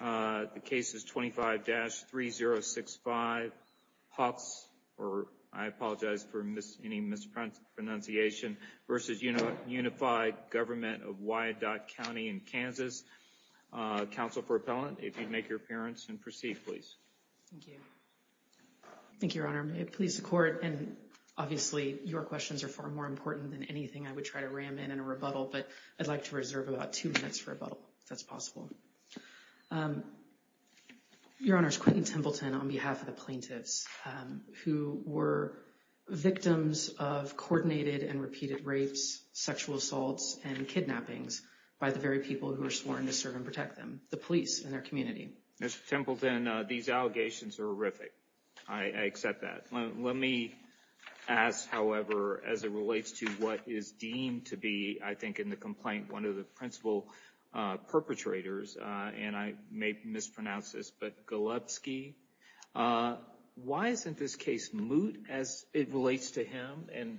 The case is 25-3065 Potts, or I apologize for any mispronunciation, versus Unified Government of Wyandotte County in Kansas. Counsel for appellant, if you'd make your appearance and proceed, please. Thank you. Thank you, Your Honor. May it please the Court, and obviously your questions are far more important than anything I would try to ram in in a rebuttal, but I'd like to reserve about two minutes for rebuttal, if that's possible. Your Honor, it's Quentin Templeton on behalf of the plaintiffs who were victims of coordinated and repeated rapes, sexual assaults, and kidnappings by the very people who were sworn to serve and protect them, the police and their community. Mr. Templeton, these allegations are horrific. I accept that. Let me ask, however, as it relates to what is deemed to be, I think in the complaint, one of the principal perpetrators, and I may mispronounce this, but Golubsky. Why isn't this case moot as it relates to him, and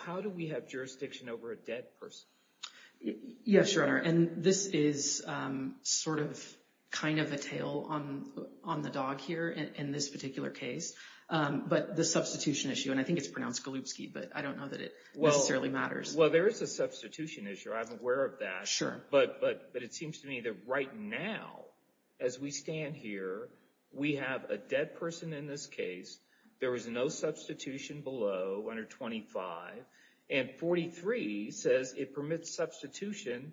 how do we have jurisdiction over a dead person? Yes, Your Honor, and this is sort of kind of a tail on the dog here in this particular case. But the substitution issue, and I think it's pronounced Golubsky, but I don't know that it necessarily matters. Well, there is a substitution issue. I'm aware of that. But it seems to me that right now, as we stand here, we have a dead person in this case. There is no substitution below 125, and 43 says it permits substitution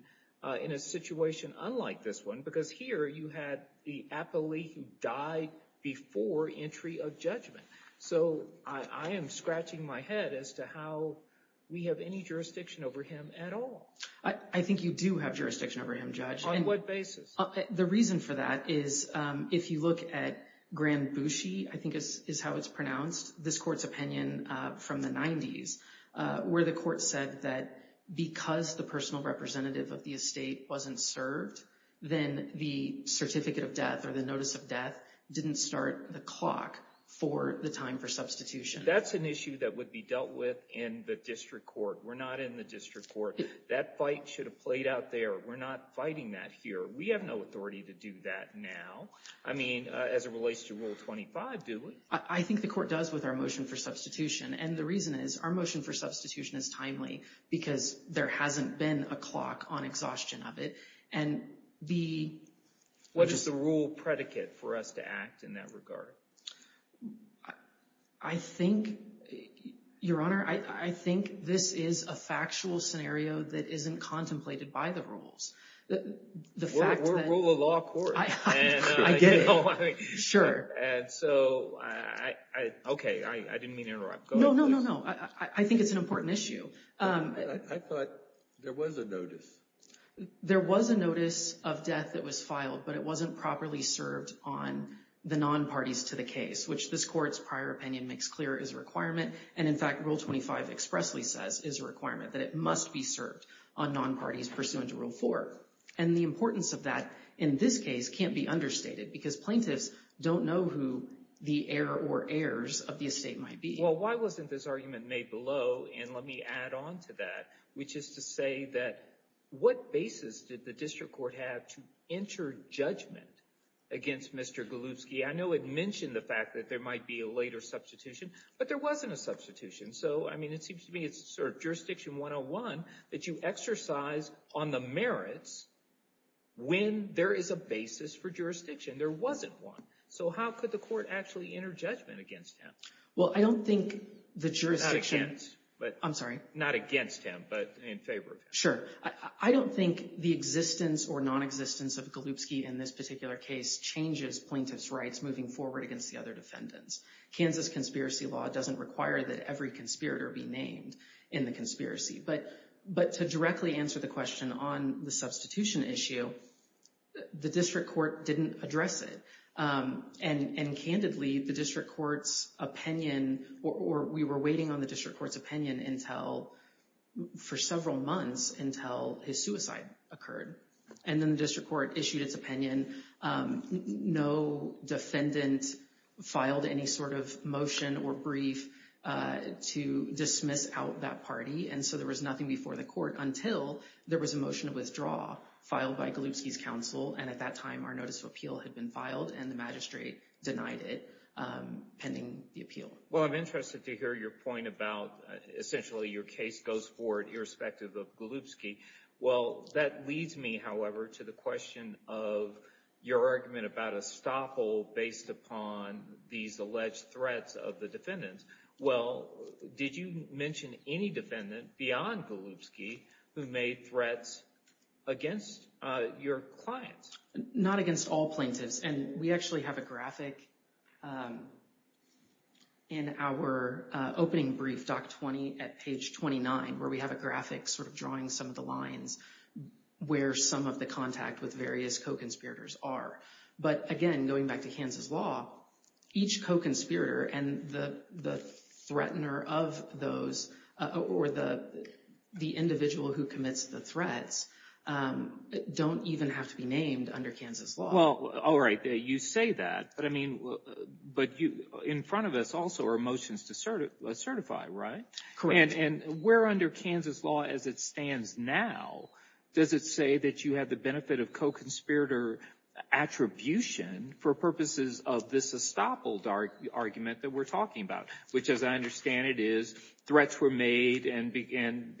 in a situation unlike this one, because here you had the appellee who died before entry of judgment. So I am scratching my head as to how we have any jurisdiction over him at all. I think you do have jurisdiction over him, Judge. On what basis? The reason for that is if you look at Grand Bouchie, I think is how it's pronounced, this court's opinion from the 90s where the court said that because the personal representative of the estate wasn't served, then the certificate of death or the notice of death didn't start the clock for the time for substitution. That's an issue that would be dealt with in the district court. We're not in the district court. That fight should have played out there. We're not fighting that here. We have no authority to do that now. I mean, as it relates to Rule 25, do we? I think the court does with our motion for substitution, and the reason is our motion for substitution is timely because there hasn't been a clock on exhaustion of it, and the— What is the rule predicate for us to act in that regard? I think, Your Honor, I think this is a factual scenario that isn't contemplated by the rules. We're a law court. I get it. And so, okay, I didn't mean to interrupt. No, no, no, no. I think it's an important issue. I thought there was a notice. There was a notice of death that was filed, but it wasn't properly served on the non-parties to the case, which this court's prior opinion makes clear is a requirement, and, in fact, Rule 25 expressly says is a requirement that it must be served on non-parties pursuant to Rule 4, and the importance of that in this case can't be understated because plaintiffs don't know who the heir or heirs of the estate might be. Well, why wasn't this argument made below, and let me add on to that, which is to say that what basis did the district court have to enter judgment against Mr. Golubsky? I know it mentioned the fact that there might be a later substitution, but there wasn't a substitution. So, I mean, it seems to me it's sort of jurisdiction 101 that you exercise on the merits when there is a basis for jurisdiction. There wasn't one. So how could the court actually enter judgment against him? Well, I don't think the jurisdiction— Not against, but— I'm sorry? Not against him, but in favor of him. Sure. I don't think the existence or nonexistence of Golubsky in this particular case changes plaintiff's rights moving forward against the other defendants. Kansas conspiracy law doesn't require that every conspirator be named in the conspiracy. But to directly answer the question on the substitution issue, the district court didn't address it. And candidly, the district court's opinion— or we were waiting on the district court's opinion until— for several months until his suicide occurred. And then the district court issued its opinion. No defendant filed any sort of motion or brief to dismiss out that party. And so there was nothing before the court until there was a motion to withdraw, filed by Golubsky's counsel. And at that time, our notice of appeal had been filed, and the magistrate denied it pending the appeal. Well, I'm interested to hear your point about essentially your case goes forward irrespective of Golubsky. Well, that leads me, however, to the question of your argument about a stop hole based upon these alleged threats of the defendants. Well, did you mention any defendant beyond Golubsky who made threats against your clients? Not against all plaintiffs. And we actually have a graphic in our opening brief, Doc 20 at page 29, where we have a graphic sort of drawing some of the lines where some of the contact with various co-conspirators are. But again, going back to Kansas law, each co-conspirator and the threatener of those or the individual who commits the threats don't even have to be named under Kansas law. Well, all right. You say that. But in front of us also are motions to certify, right? Correct. And where under Kansas law as it stands now, does it say that you have the benefit of co-conspirator attribution for purposes of this stop hole argument that we're talking about, which as I understand it is threats were made and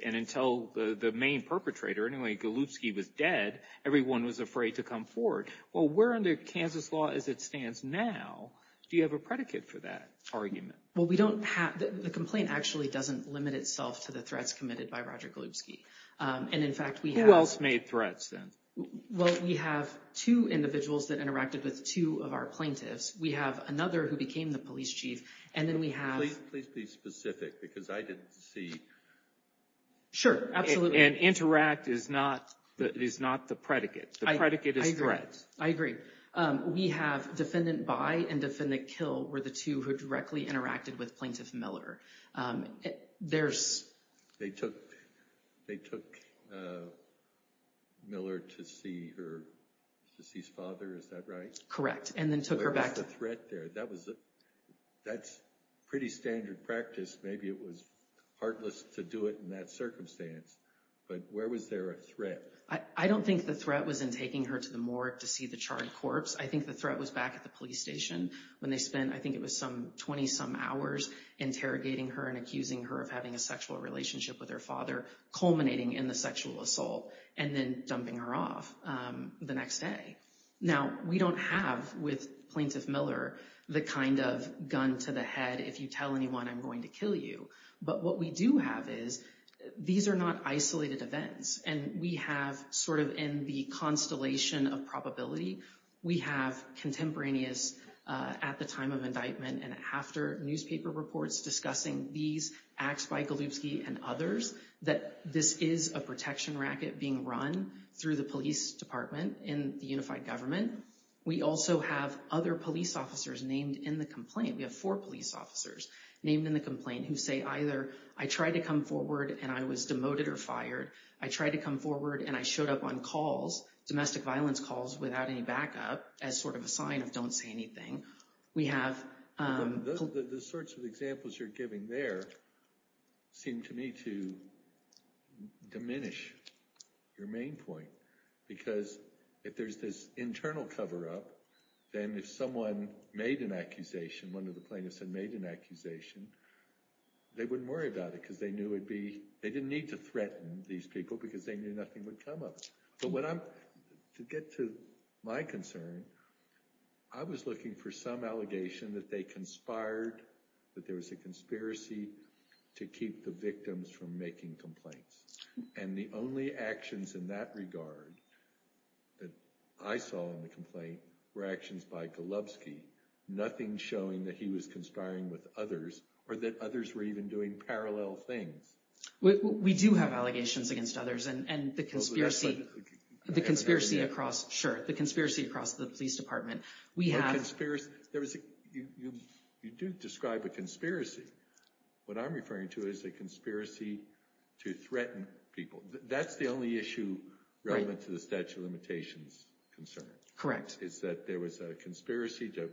until the main perpetrator, anyway, Golubsky was dead, everyone was afraid to come forward. Well, where under Kansas law as it stands now, do you have a predicate for that argument? Well, the complaint actually doesn't limit itself to the threats committed by Roger Golubsky. And, in fact, we have – Who else made threats then? Well, we have two individuals that interacted with two of our plaintiffs. We have another who became the police chief, and then we have – Please be specific because I didn't see. Sure, absolutely. And interact is not the predicate. I agree. It is threats. I agree. We have defendant by and defendant kill were the two who directly interacted with plaintiff Miller. There's – They took Miller to see her deceased father, is that right? Correct, and then took her back to – Where was the threat there? That's pretty standard practice. Maybe it was heartless to do it in that circumstance, but where was there a threat? I don't think the threat was in taking her to the morgue to see the charred corpse. I think the threat was back at the police station when they spent, I think it was some 20-some hours, interrogating her and accusing her of having a sexual relationship with her father, culminating in the sexual assault, and then dumping her off the next day. Now, we don't have with plaintiff Miller the kind of gun to the head, if you tell anyone I'm going to kill you. But what we do have is these are not isolated events. And we have sort of in the constellation of probability, we have contemporaneous at the time of indictment and after newspaper reports discussing these acts by Golubsky and others, that this is a protection racket being run through the police department in the unified government. We also have other police officers named in the complaint. We have four police officers named in the complaint who say either, I tried to come forward and I was demoted or fired. I tried to come forward and I showed up on calls, domestic violence calls, without any backup as sort of a sign of don't say anything. The sorts of examples you're giving there seem to me to diminish your main point. Because if there's this internal cover-up, then if someone made an accusation, one of the plaintiffs had made an accusation, they wouldn't worry about it because they didn't need to threaten these people because they knew nothing would come of it. But to get to my concern, I was looking for some allegation that they conspired, that there was a conspiracy to keep the victims from making complaints. And the only actions in that regard that I saw in the complaint were actions by Golubsky, nothing showing that he was conspiring with others or that others were even doing parallel things. We do have allegations against others and the conspiracy across the police department. You do describe a conspiracy. What I'm referring to is a conspiracy to threaten people. That's the only issue relevant to the statute of limitations concern. Correct. My understanding is that there was a conspiracy to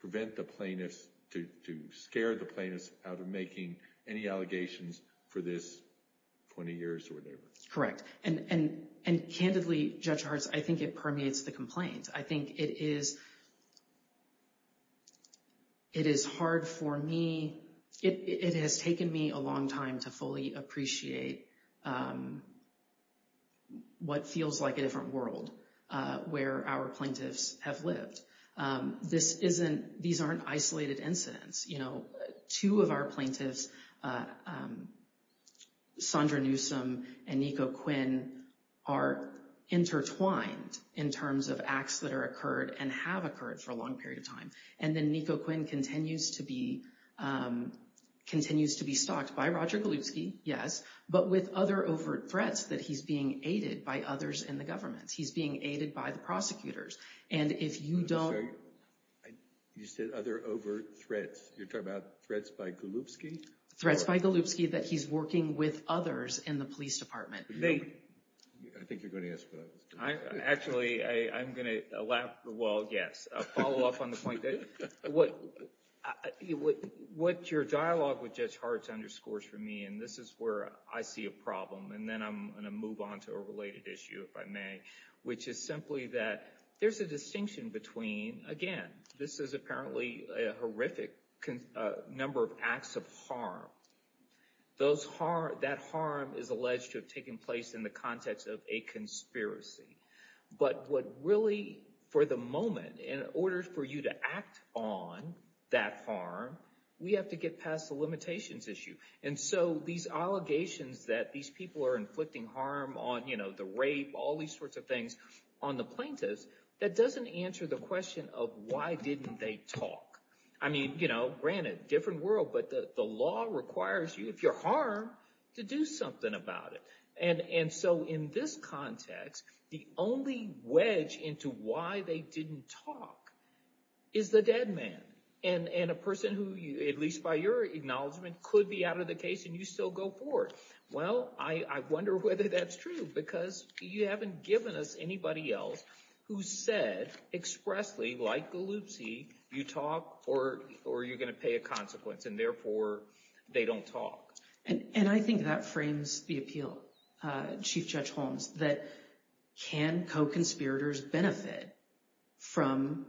prevent the plaintiffs, to scare the plaintiffs out of making any allegations for this 20 years or whatever. Correct. And candidly, Judge Hartz, I think it permeates the complaint. I think it is hard for me. It has taken me a long time to fully appreciate what feels like a different world where our plaintiffs have lived. These aren't isolated incidents. Two of our plaintiffs, Sondra Newsom and Nico Quinn, are intertwined in terms of acts that are occurred and have occurred for a long period of time. And then Nico Quinn continues to be stalked by Roger Golubsky, yes, but with other overt threats that he's being aided by others in the government. He's being aided by the prosecutors. And if you don't— You said other overt threats. You're talking about threats by Golubsky? Threats by Golubsky that he's working with others in the police department. I think you're going to ask what I was doing. Actually, I'm going to laugh for a while, yes. A follow-up on the point. What your dialogue with Judge Hartz underscores for me, and this is where I see a problem, and then I'm going to move on to a related issue, if I may, which is simply that there's a distinction between, again, this is apparently a horrific number of acts of harm. That harm is alleged to have taken place in the context of a conspiracy. But what really, for the moment, in order for you to act on that harm, we have to get past the limitations issue. And so these allegations that these people are inflicting harm on the rape, all these sorts of things on the plaintiffs, that doesn't answer the question of why didn't they talk. I mean, granted, different world, but the law requires you, if you're harmed, to do something about it. And so in this context, the only wedge into why they didn't talk is the dead man. And a person who, at least by your acknowledgement, could be out of the case and you still go forward. Well, I wonder whether that's true, because you haven't given us anybody else who said expressly, like Galluzzi, you talk or you're going to pay a consequence, and therefore they don't talk. And I think that frames the appeal, Chief Judge Holmes, that can co-conspirators benefit from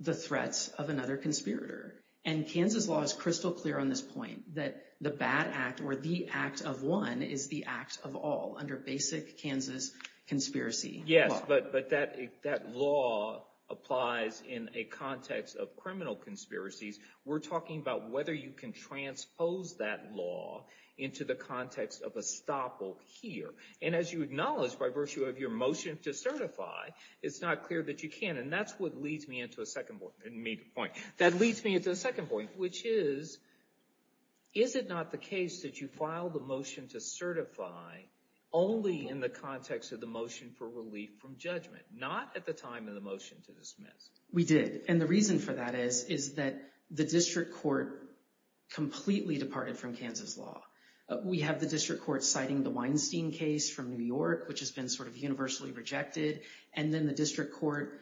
the threats of another conspirator? And Kansas law is crystal clear on this point, that the bad act or the act of one is the act of all under basic Kansas conspiracy law. Yes, but that law applies in a context of criminal conspiracies. We're talking about whether you can transpose that law into the context of estoppel here. And as you acknowledge, by virtue of your motion to certify, it's not clear that you can. And that's what leads me into a second point, which is, is it not the case that you filed the motion to certify only in the context of the motion for relief from judgment, not at the time of the motion to dismiss? We did. And the reason for that is, is that the district court completely departed from Kansas law. We have the district court citing the Weinstein case from New York, which has been sort of universally rejected, and then the district court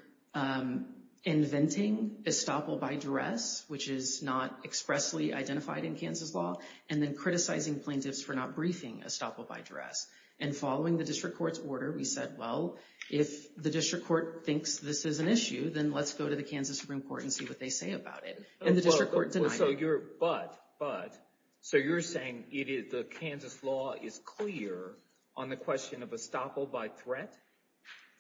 inventing estoppel by duress, which is not expressly identified in Kansas law, and then criticizing plaintiffs for not briefing estoppel by duress. And following the district court's order, we said, well, if the district court thinks this is an issue, then let's go to the Kansas Supreme Court and see what they say about it. And the district court denied it. But, but, so you're saying the Kansas law is clear on the question of estoppel by threat?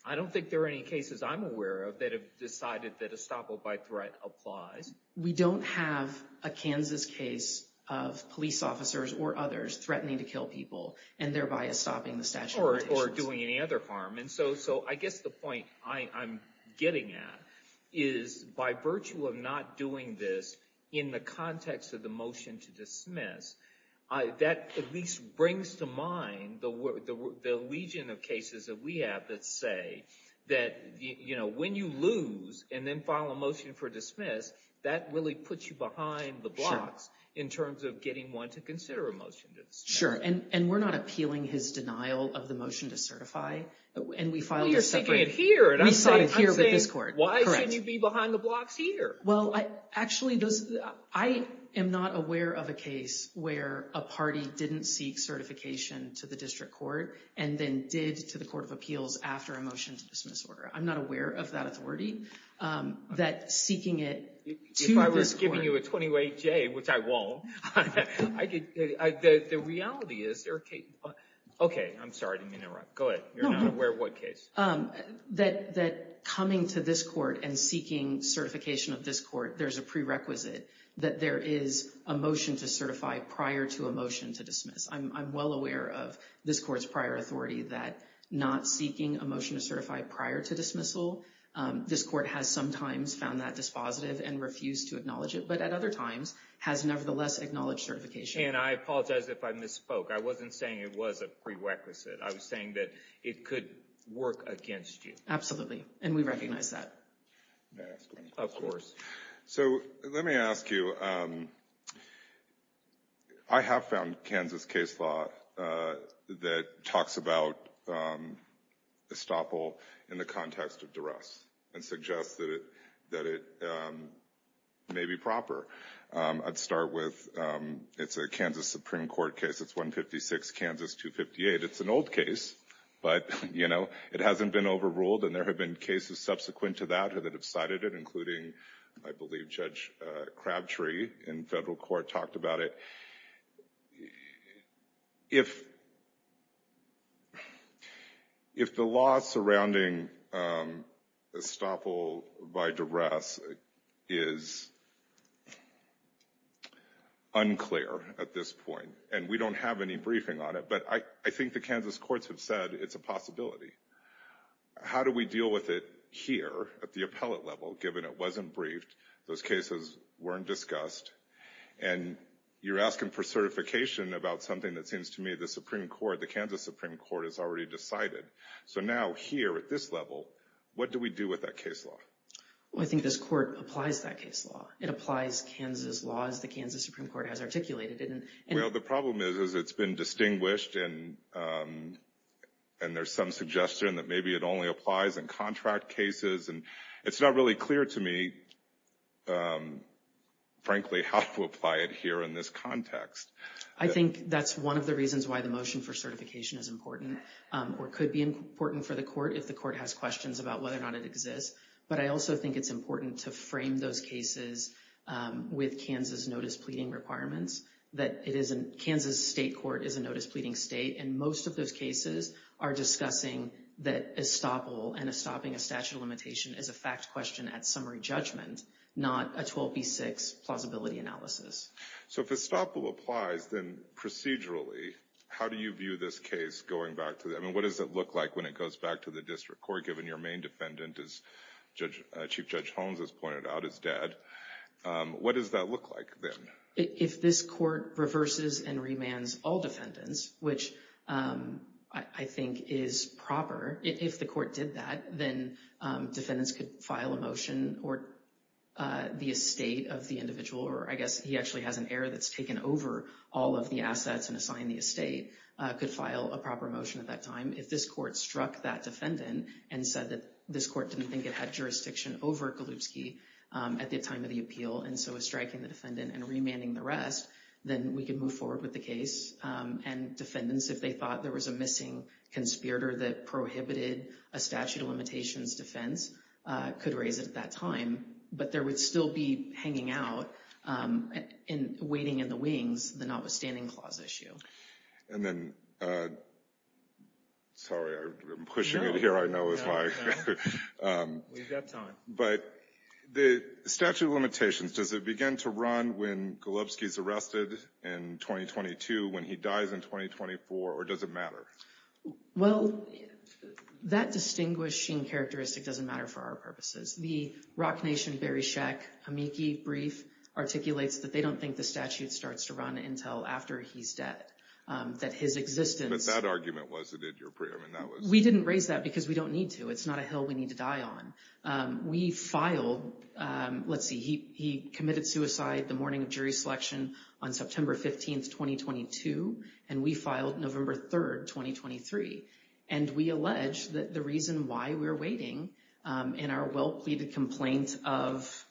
I don't think there are any cases I'm aware of that have decided that estoppel by threat applies. We don't have a Kansas case of police officers or others threatening to kill people and thereby stopping the statute of limitations. Or doing any other harm. And so, so I guess the point I'm getting at is by virtue of not doing this in the context of the motion to dismiss, that at least brings to mind the legion of cases that we have that say that, you know, when you lose and then file a motion for dismiss, that really puts you behind the blocks in terms of getting one to consider a motion to dismiss. Sure. And we're not appealing his denial of the motion to certify. And we filed a separate. Well, you're saying it here. And I'm saying, why shouldn't you be behind the blocks here? Well, actually, I am not aware of a case where a party didn't seek certification to the district court and then did to the Court of Appeals after a motion to dismiss order. I'm not aware of that authority. That seeking it to this court. If I was giving you a 28-J, which I won't. The reality is there are cases. OK, I'm sorry to interrupt. Go ahead. You're not aware of what case? That coming to this court and seeking certification of this court, there's a prerequisite that there is a motion to certify prior to a motion to dismiss. I'm well aware of this court's prior authority that not seeking a motion to certify prior to dismissal. This court has sometimes found that dispositive and refused to acknowledge it, but at other times has nevertheless acknowledged certification. And I apologize if I misspoke. I wasn't saying it was a prerequisite. I was saying that it could work against you. Absolutely. And we recognize that. Of course. So let me ask you. I have found Kansas case law that talks about estoppel in the context of duress and suggests that it may be proper. I'd start with it's a Kansas Supreme Court case. It's 156 Kansas 258. It's an old case, but, you know, it hasn't been overruled. And there have been cases subsequent to that that have cited it, including I believe Judge Crabtree in federal court talked about it. If. If the law surrounding estoppel by duress is unclear at this point and we don't have any briefing on it, but I think the Kansas courts have said it's a possibility. How do we deal with it here at the appellate level, given it wasn't briefed? Those cases weren't discussed. And you're asking for certification about something that seems to me the Supreme Court, the Kansas Supreme Court has already decided. So now here at this level, what do we do with that case law? Well, I think this court applies that case law. It applies Kansas laws. The Kansas Supreme Court has articulated it. Well, the problem is, is it's been distinguished and and there's some suggestion that maybe it only applies in contract cases. And it's not really clear to me, frankly, how to apply it here in this context. I think that's one of the reasons why the motion for certification is important or could be important for the court if the court has questions about whether or not it exists. But I also think it's important to frame those cases with Kansas notice pleading requirements that it isn't. Kansas State Court is a notice pleading state, and most of those cases are discussing that estoppel and stopping a statute of limitation is a fact question at summary judgment, not a 12B6 plausibility analysis. So if estoppel applies, then procedurally, how do you view this case going back to that? I mean, what does it look like when it goes back to the district court, given your main defendant, as Chief Judge Holmes has pointed out, is dead? What does that look like then? If this court reverses and remands all defendants, which I think is proper, if the court did that, then defendants could file a motion or the estate of the individual, or I guess he actually has an heir that's taken over all of the assets and assigned the estate, could file a proper motion at that time. If this court struck that defendant and said that this court didn't think it had jurisdiction over Golubsky at the time of the appeal and so is striking the defendant and remanding the rest, then we can move forward with the case. And defendants, if they thought there was a missing conspirator that prohibited a statute of limitations defense, could raise it at that time. But there would still be hanging out and waiting in the wings the notwithstanding clause issue. And then, sorry, I'm pushing it here. I know it's my turn. We've got time. But the statute of limitations, does it begin to run when Golubsky's arrested in 2022, when he dies in 2024, or does it matter? Well, that distinguishing characteristic doesn't matter for our purposes. The Rock Nation Bereshek-Pamiki brief articulates that they don't think the statute starts to run until after he's dead, that his existence – But that argument wasn't in your – We didn't raise that because we don't need to. It's not a hill we need to die on. We filed – let's see, he committed suicide the morning of jury selection on September 15, 2022, and we filed November 3, 2023. And we allege that the reason why we're waiting in our well-pleaded complaint of – let's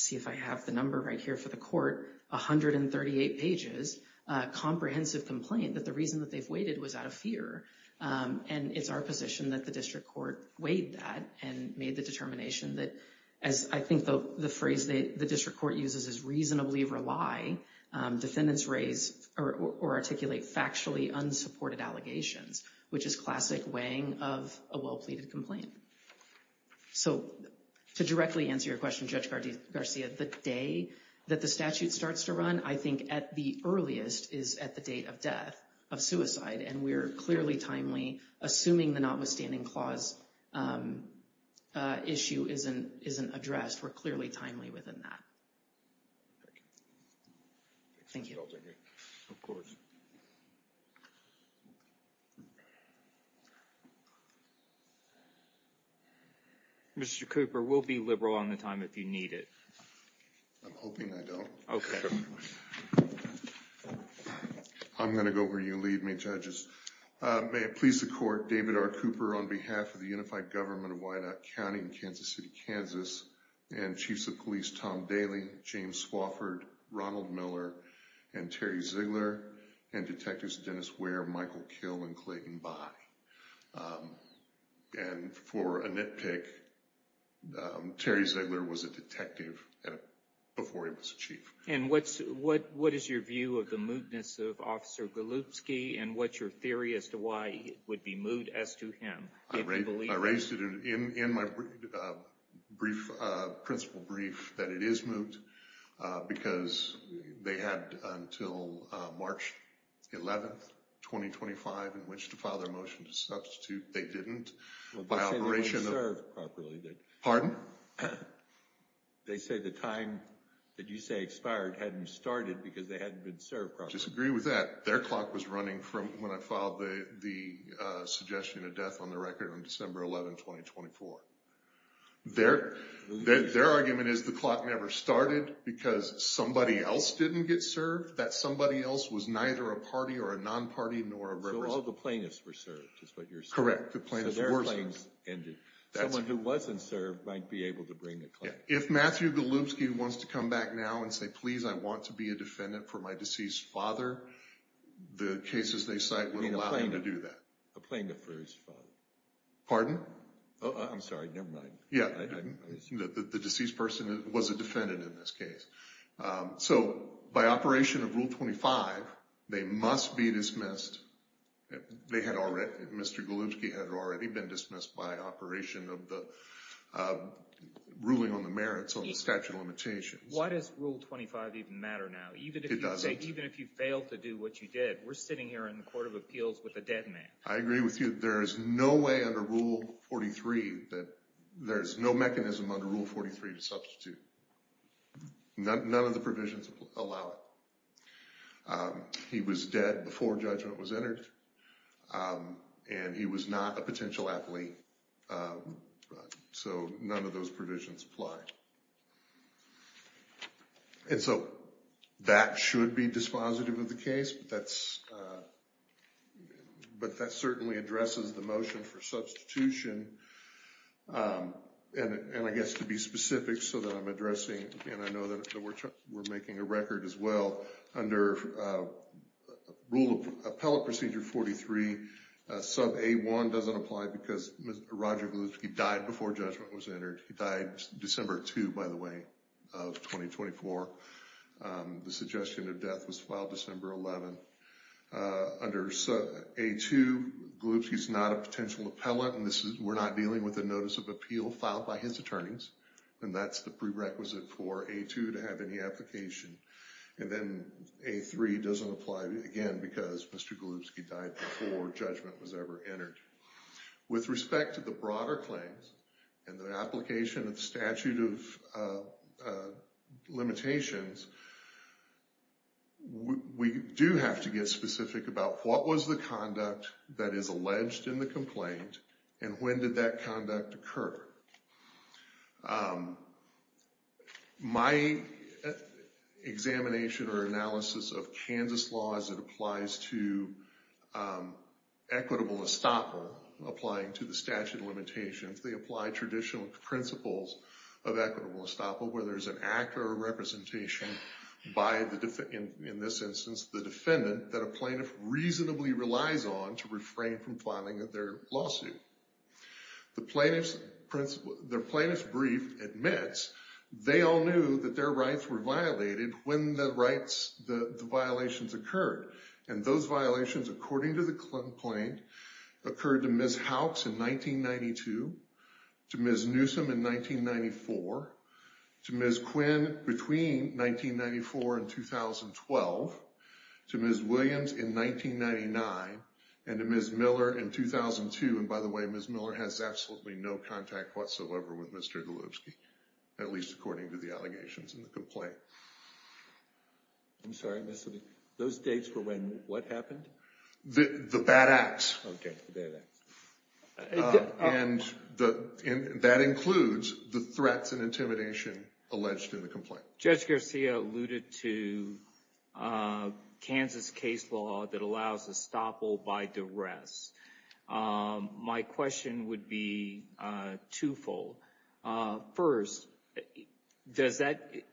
see if I have the number right here for the court – 138 pages, a comprehensive complaint, that the reason that they've waited was out of fear. And it's our position that the district court weighed that and made the determination that – I think the phrase the district court uses is reasonably rely, defendants raise or articulate factually unsupported allegations, which is classic weighing of a well-pleaded complaint. So to directly answer your question, Judge Garcia, the day that the statute starts to run, I think at the earliest is at the date of death, of suicide. And we're clearly timely. Assuming the notwithstanding clause issue isn't addressed, we're clearly timely within that. Thank you. Of course. Mr. Cooper, we'll be liberal on the time if you need it. I'm hoping I don't. Okay. I'm going to go where you lead me, judges. May it please the court, David R. Cooper on behalf of the Unified Government of Wyandotte County and Kansas City, Kansas, and Chiefs of Police Tom Daley, James Swofford, Ronald Miller, and Terry Ziegler, and Detectives Dennis Ware, Michael Kill, and Clayton Bye. And for a nitpick, Terry Ziegler was a detective before he was a chief. And what is your view of the mootness of Officer Golubsky and what's your theory as to why it would be moot as to him? I raised it in my principal brief that it is moot because they had until March 11, 2025, in which to file their motion to substitute. They didn't. Well, they say they were served properly. Pardon? They say the time that you say expired hadn't started because they hadn't been served properly. I disagree with that. Their clock was running from when I filed the suggestion of death on the record on December 11, 2024. Their argument is the clock never started because somebody else didn't get served, that somebody else was neither a party or a non-party nor a representative. So all the plaintiffs were served is what you're saying. Correct. The plaintiffs were served. So their claims ended. Someone who wasn't served might be able to bring a claim. If Matthew Golubsky wants to come back now and say, please, I want to be a defendant for my deceased father, the cases they cite would allow him to do that. A plaintiff for his father. Pardon? I'm sorry. Never mind. Yeah. The deceased person was a defendant in this case. So by operation of Rule 25, they must be dismissed. Mr. Golubsky had already been dismissed by operation of the ruling on the merits of the statute of limitations. Why does Rule 25 even matter now? It doesn't. Even if you failed to do what you did, we're sitting here in the Court of Appeals with a dead man. I agree with you. There is no way under Rule 43 that there's no mechanism under Rule 43 to substitute. None of the provisions allow it. He was dead before judgment was entered, and he was not a potential athlete. So none of those provisions apply. And so that should be dispositive of the case, but that certainly addresses the motion for substitution. And I guess to be specific so that I'm addressing, and I know that we're making a record as well, under Rule of Appellate Procedure 43, sub A1 doesn't apply because Roger Golubsky died before judgment was entered. He died December 2, by the way, of 2024. The suggestion of death was filed December 11. Under sub A2, Golubsky's not a potential appellant, and we're not dealing with a notice of appeal filed by his attorneys. And that's the prerequisite for A2 to have any application. And then A3 doesn't apply, again, because Mr. Golubsky died before judgment was ever entered. With respect to the broader claims and the application of the statute of limitations, we do have to get specific about what was the conduct that is alleged in the complaint and when did that conduct occur. My examination or analysis of Kansas law as it applies to equitable estoppel, applying to the statute of limitations, they apply traditional principles of equitable estoppel where there's an act or a representation by, in this instance, the defendant that a plaintiff reasonably relies on to refrain from filing their lawsuit. The plaintiff's brief admits they all knew that their rights were violated when the violations occurred. And those violations, according to the complaint, occurred to Ms. Howkes in 1992, to Ms. Newsom in 1994, to Ms. Quinn between 1994 and 2012, to Ms. Williams in 1999, and to Ms. Miller in 2002. And by the way, Ms. Miller has absolutely no contact whatsoever with Mr. Golubsky, at least according to the allegations in the complaint. I'm sorry, Mr. Lee. Those dates were when what happened? The bad acts. Okay, the bad acts. And that includes the threats and intimidation alleged in the complaint. Judge Garcia alluded to Kansas case law that allows estoppel by duress. My question would be twofold. First,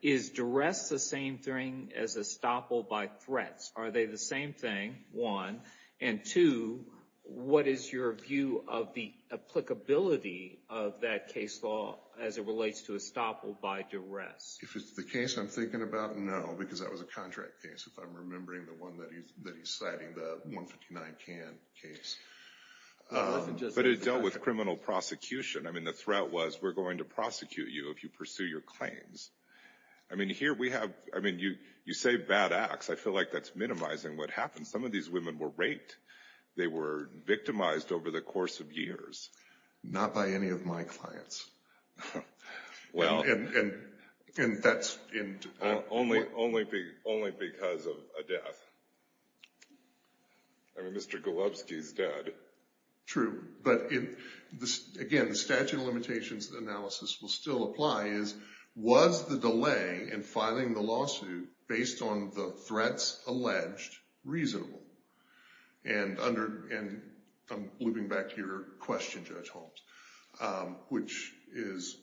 is duress the same thing as estoppel by threats? Are they the same thing, one? And two, what is your view of the applicability of that case law as it relates to estoppel by duress? If it's the case I'm thinking about, no, because that was a contract case. If I'm remembering the one that he's citing, the 159 Can case. But it dealt with criminal prosecution. I mean, the threat was, we're going to prosecute you if you pursue your claims. I mean, here we have, I mean, you say bad acts. I feel like that's minimizing what happened. Some of these women were raped. They were victimized over the course of years. Not by any of my clients. Well, only because of a death. I mean, Mr. Golubsky's dead. True. But again, the statute of limitations analysis will still apply is, was the delay in filing the lawsuit based on the threats alleged reasonable? And I'm looping back to your question, Judge Holmes, which is,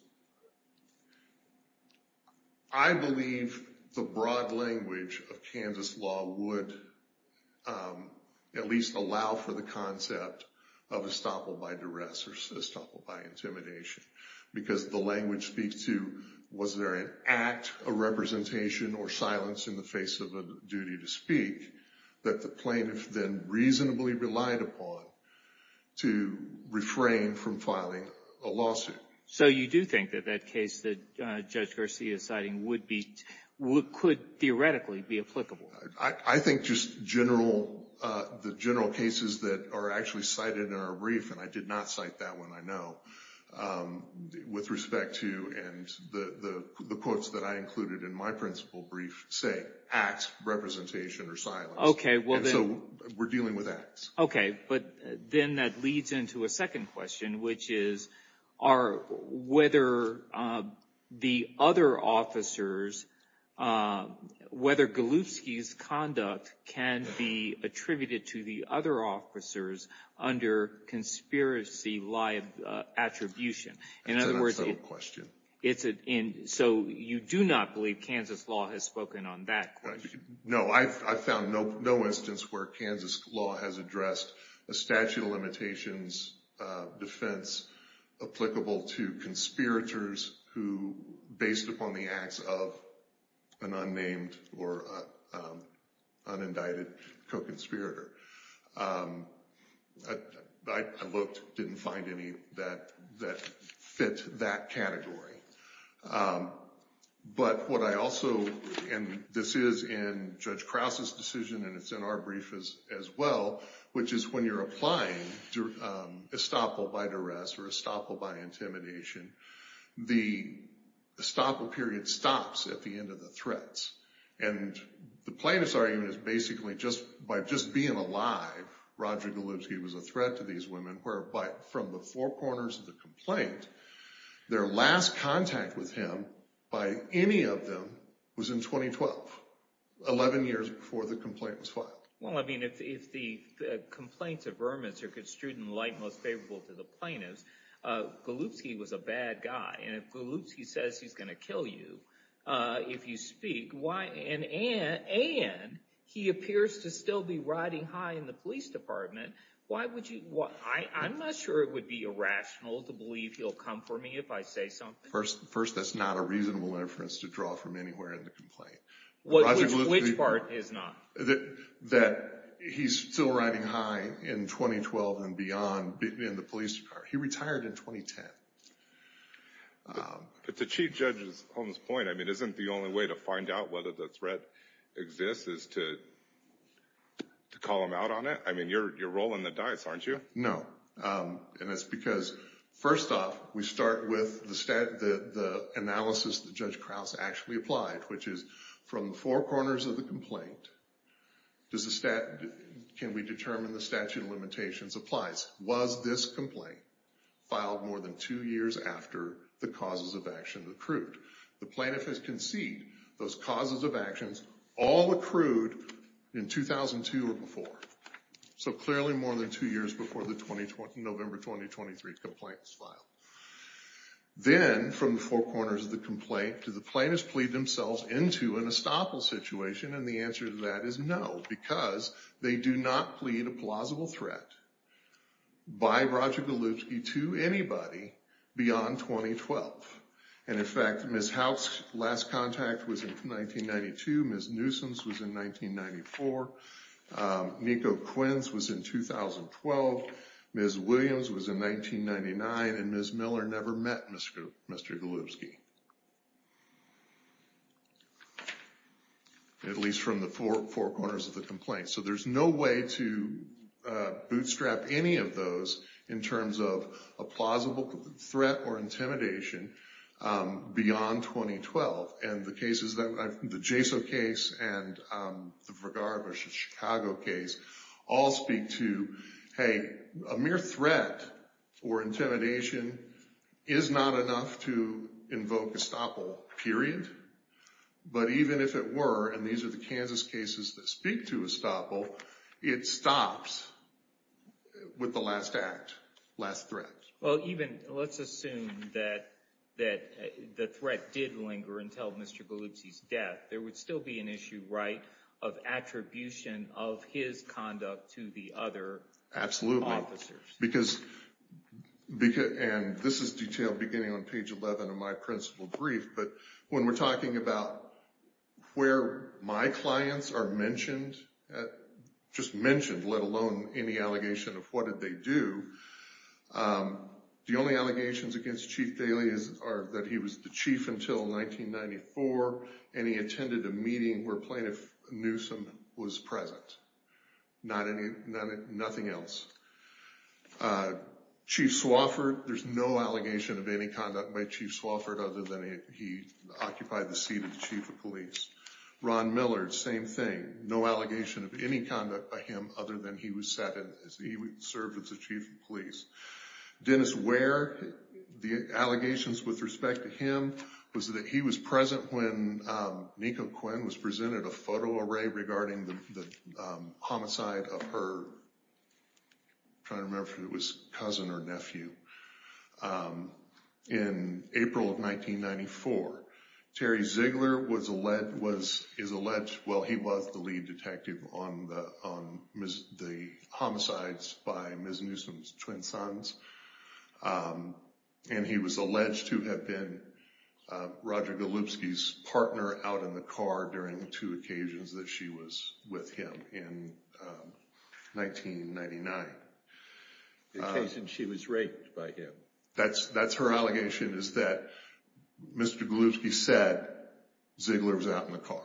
I believe the broad language of Kansas law would at least allow for the concept of estoppel by duress, or estoppel by intimidation, because the language speaks to, was there an act of representation or silence in the face of a duty to speak that the plaintiff then reasonably relied upon to refrain from filing a lawsuit? So you do think that that case that Judge Garcia is citing would be, could theoretically be applicable? I think just general, the general cases that are actually cited in our brief, and I did not cite that one, I know, with respect to, and the quotes that I included in my principal brief say, acts, representation, or silence. Okay, well then. And so we're dealing with acts. Okay, but then that leads into a second question, which is, are, whether the other officers, whether Golubsky's conduct can be attributed to the other officers under conspiracy attribution. In other words, it's a, so you do not believe Kansas law has spoken on that question? No, I've found no instance where Kansas law has addressed a statute of limitations defense applicable to conspirators who, based upon the acts of an unnamed or unindicted co-conspirator. I looked, didn't find any that fit that category. But what I also, and this is in Judge Krause's decision and it's in our brief as well, which is when you're applying estoppel by duress or estoppel by intimidation, the estoppel period stops at the end of the threats. And the plaintiff's argument is basically just, by just being alive, Roger Golubsky was a threat to these women, whereby from the four corners of the complaint, their last contact with him by any of them was in 2012, 11 years before the complaint was filed. Well, I mean, if the complaints of vermis are construed in light most favorable to the plaintiffs, Golubsky was a bad guy. And if Golubsky says he's going to kill you if you speak, and he appears to still be riding high in the police department, why would you, I'm not sure it would be irrational to believe he'll come for me if I say something. First, that's not a reasonable inference to draw from anywhere in the complaint. Which part is not? That he's still riding high in 2012 and beyond in the police department. He retired in 2010. But to Chief Judge's point, I mean, isn't the only way to find out whether the threat exists is to call him out on it? I mean, you're rolling the dice, aren't you? No. And that's because, first off, we start with the analysis that Judge Krause actually applied, which is from the four corners of the complaint, can we determine the statute of limitations applies? Was this complaint filed more than two years after the causes of action accrued? The plaintiff has conceded those causes of actions all accrued in 2002 or before. So clearly more than two years before the November 2023 complaint was filed. Then, from the four corners of the complaint, do the plaintiffs plead themselves into an estoppel situation? And the answer to that is no, because they do not plead a plausible threat by Roger Golubsky to anybody beyond 2012. And, in fact, Ms. House's last contact was in 1992. Ms. Newsom's was in 1994. Nico Quinn's was in 2012. Ms. Williams was in 1999. And Ms. Miller never met Mr. Golubsky. At least from the four corners of the complaint. So there's no way to bootstrap any of those in terms of a plausible threat or intimidation beyond 2012. And the cases, the Jaso case and the Vergara v. Chicago case, all speak to, hey, a mere threat or intimidation is not enough to invoke estoppel, period. But even if it were, and these are the Kansas cases that speak to estoppel, it stops with the last act, last threat. Well, even, let's assume that the threat did linger until Mr. Golubsky's death. There would still be an issue, right, of attribution of his conduct to the other officers. Absolutely. Because, and this is detailed beginning on page 11 of my principal brief, but when we're talking about where my clients are mentioned, just mentioned, let alone any allegation of what did they do, the only allegations against Chief Daley are that he was the chief until 1994 and he attended a meeting where Plaintiff Newsom was present. Nothing else. Chief Swofford, there's no allegation of any conduct by Chief Swofford other than he occupied the seat of the chief of police. Ron Millard, same thing. No allegation of any conduct by him other than he served as the chief of police. Dennis Ware, the allegations with respect to him was that he was present when Niko Quinn was presented a photo array regarding the homicide of her, I'm trying to remember if it was cousin or nephew, in April of 1994. Terry Ziegler is alleged, well he was the lead detective on the homicides by Ms. Newsom's twin sons. And he was alleged to have been Roger Golubsky's partner out in the car during the two occasions that she was with him in 1999. The occasion she was raped by him. That's her allegation is that Mr. Golubsky said Ziegler was out in the car.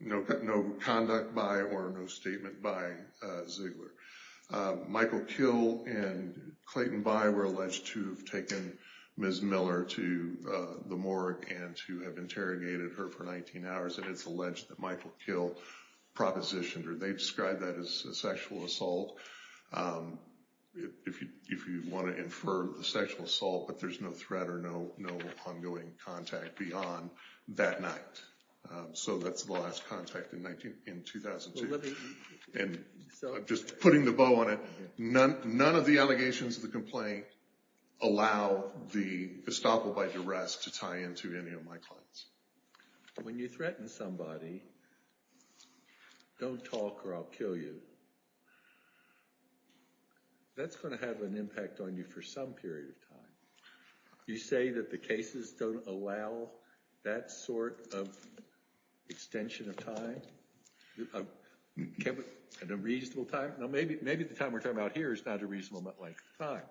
No conduct by or no statement by Ziegler. Michael Kill and Clayton By were alleged to have taken Ms. Miller to the morgue and to have interrogated her for 19 hours. And it's alleged that Michael Kill propositioned her. They described that as a sexual assault. If you want to infer the sexual assault, but there's no threat or no ongoing contact beyond that night. So that's the last contact in 2002. And I'm just putting the bow on it. None of the allegations of the complaint allow the estoppel by duress to tie into any of my claims. When you threaten somebody. Don't talk or I'll kill you. That's going to have an impact on you for some period of time. You say that the cases don't allow that sort of extension of time. At a reasonable time. Now, maybe maybe the time we're talking about here is not a reasonable time.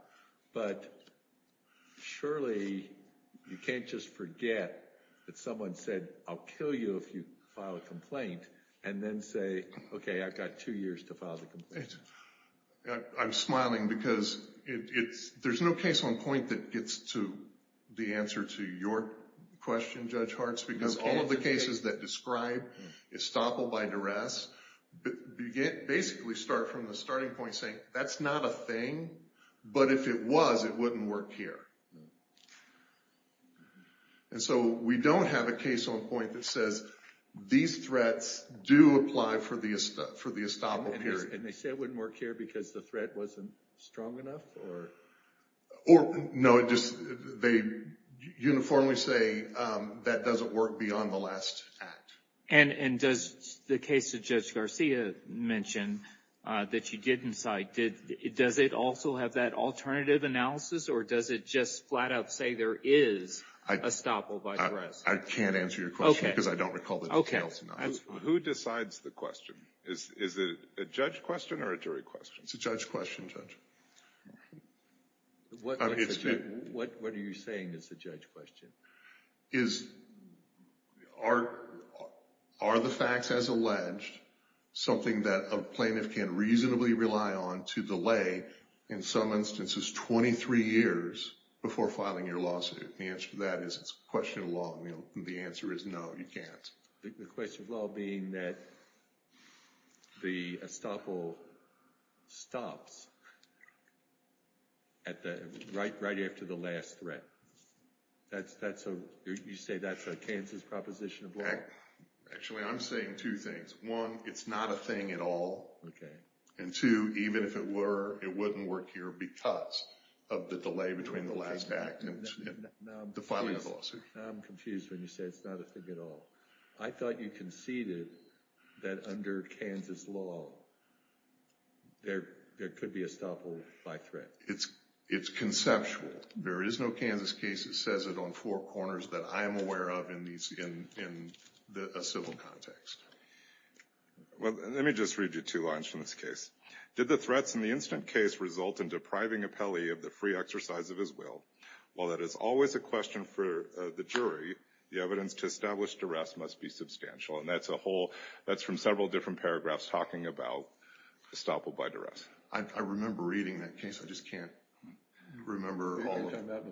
But surely you can't just forget that someone said, I'll kill you if you file a complaint and then say, OK, I've got two years to file the complaint. I'm smiling because it's there's no case on point that gets to the answer to your question. Judge Hart's because all of the cases that describe estoppel by duress begin basically start from the starting point saying that's not a thing. But if it was, it wouldn't work here. And so we don't have a case on point that says these threats do apply for the for the estoppel period. And they say it wouldn't work here because the threat wasn't strong enough or. Or no, it just they uniformly say that doesn't work beyond the last act. And and does the case of Judge Garcia mentioned that you didn't cite it? Does it also have that alternative analysis or does it just flat out say there is a estoppel by duress? I can't answer your question because I don't recall the details. Who decides the question? Is it a judge question or a jury question? It's a judge question, Judge. What are you saying is the judge question? Is are are the facts as alleged something that a plaintiff can reasonably rely on to delay in some instances 23 years before filing your lawsuit? The answer to that is it's question of law. And the answer is no, you can't. The question of law being that the estoppel stops at the right right after the last threat. That's that's a you say that's a Kansas proposition of law. Actually, I'm saying two things. One, it's not a thing at all. Okay. And two, even if it were, it wouldn't work here because of the delay between the last act and the filing of the lawsuit. I'm confused when you say it's not a thing at all. I thought you conceded that under Kansas law, there could be a estoppel by threat. It's conceptual. There is no Kansas case that says it on four corners that I am aware of in a civil context. Well, let me just read you two lines from this case. Did the threats in the incident case result in depriving Apelli of the free exercise of his will? Well, that is always a question for the jury. The evidence to establish duress must be substantial. And that's a whole that's from several different paragraphs talking about estoppel by duress. I remember reading that case. I just can't remember all of that.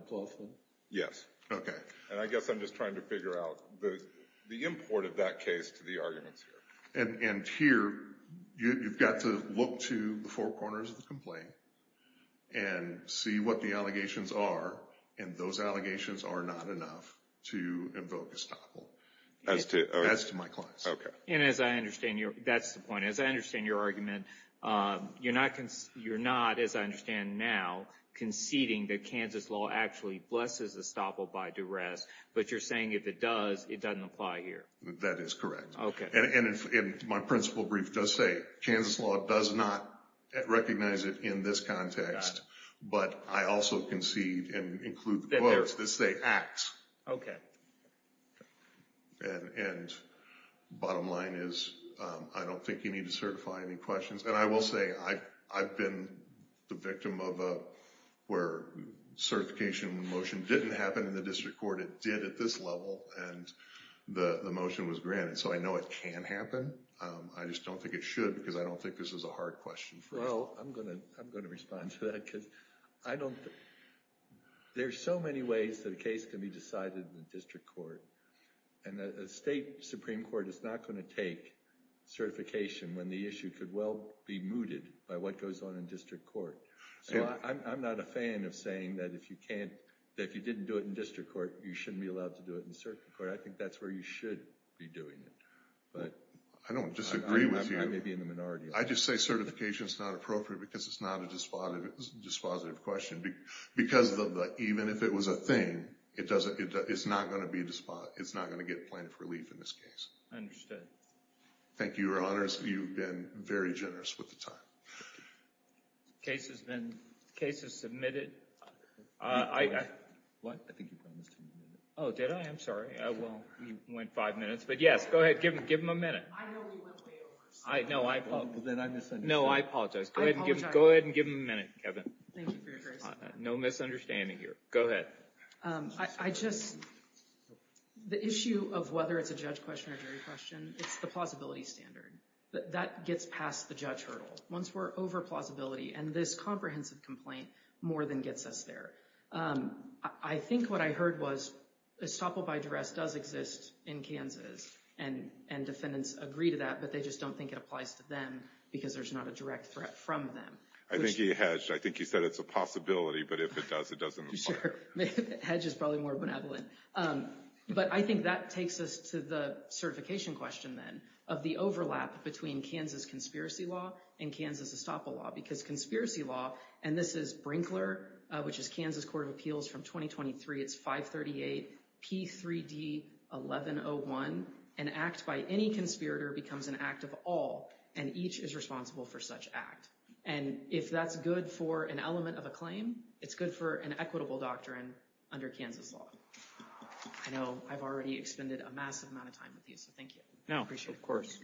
Yes. Okay. And I guess I'm just trying to figure out the import of that case to the arguments here. And here, you've got to look to the four corners of the complaint and see what the allegations are. And those allegations are not enough to invoke estoppel. As to? As to my clients. And as I understand, that's the point. As I understand your argument, you're not, as I understand now, conceding that Kansas law actually blesses estoppel by duress. But you're saying if it does, it doesn't apply here. That is correct. Okay. And my principal brief does say Kansas law does not recognize it in this context. But I also concede and include the quotes that say acts. Okay. And bottom line is I don't think you need to certify any questions. And I will say I've been the victim of where certification motion didn't happen in the district court. It did at this level. And the motion was granted. So I know it can happen. I just don't think it should because I don't think this is a hard question for us. Well, I'm going to respond to that because I don't think there's so many ways that a case can be decided in the district court. And the state supreme court is not going to take certification when the issue could well be mooted by what goes on in district court. So I'm not a fan of saying that if you didn't do it in district court, you shouldn't be allowed to do it in circuit court. I think that's where you should be doing it. I don't disagree with you. I may be in the minority. I just say certification is not appropriate because it's not a dispositive question. Because even if it was a thing, it's not going to get plaintiff relief in this case. I understand. Thank you, Your Honors. You've been very generous with the time. Case has been submitted. What? I think you promised to move it. Oh, did I? I'm sorry. Well, you went five minutes. But yes, go ahead. Give him a minute. I know we went way over. Then I misunderstood. No, I apologize. I apologize. Go ahead and give him a minute, Kevin. Thank you for your grace. No misunderstanding here. Go ahead. I just, the issue of whether it's a judge question or jury question, it's the plausibility standard. That gets past the judge hurdle. Once we're over plausibility and this comprehensive complaint more than gets us there. I think what I heard was estoppel by duress does exist in Kansas. And defendants agree to that. But they just don't think it applies to them because there's not a direct threat from them. I think he hedged. I think he said it's a possibility. But if it does, it doesn't apply. Sure. Hedge is probably more benevolent. But I think that takes us to the certification question then of the overlap between Kansas conspiracy law and Kansas estoppel law. Because conspiracy law, and this is Brinkler, which is Kansas Court of Appeals from 2023. It's 538P3D1101. An act by any conspirator becomes an act of all. And each is responsible for such act. And if that's good for an element of a claim, it's good for an equitable doctrine under Kansas law. I know I've already expended a massive amount of time with you. So thank you. I appreciate it. No, of course.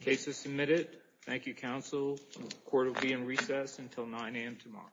Case is submitted. Thank you, counsel. The court will be in recess until 9 a.m. tomorrow.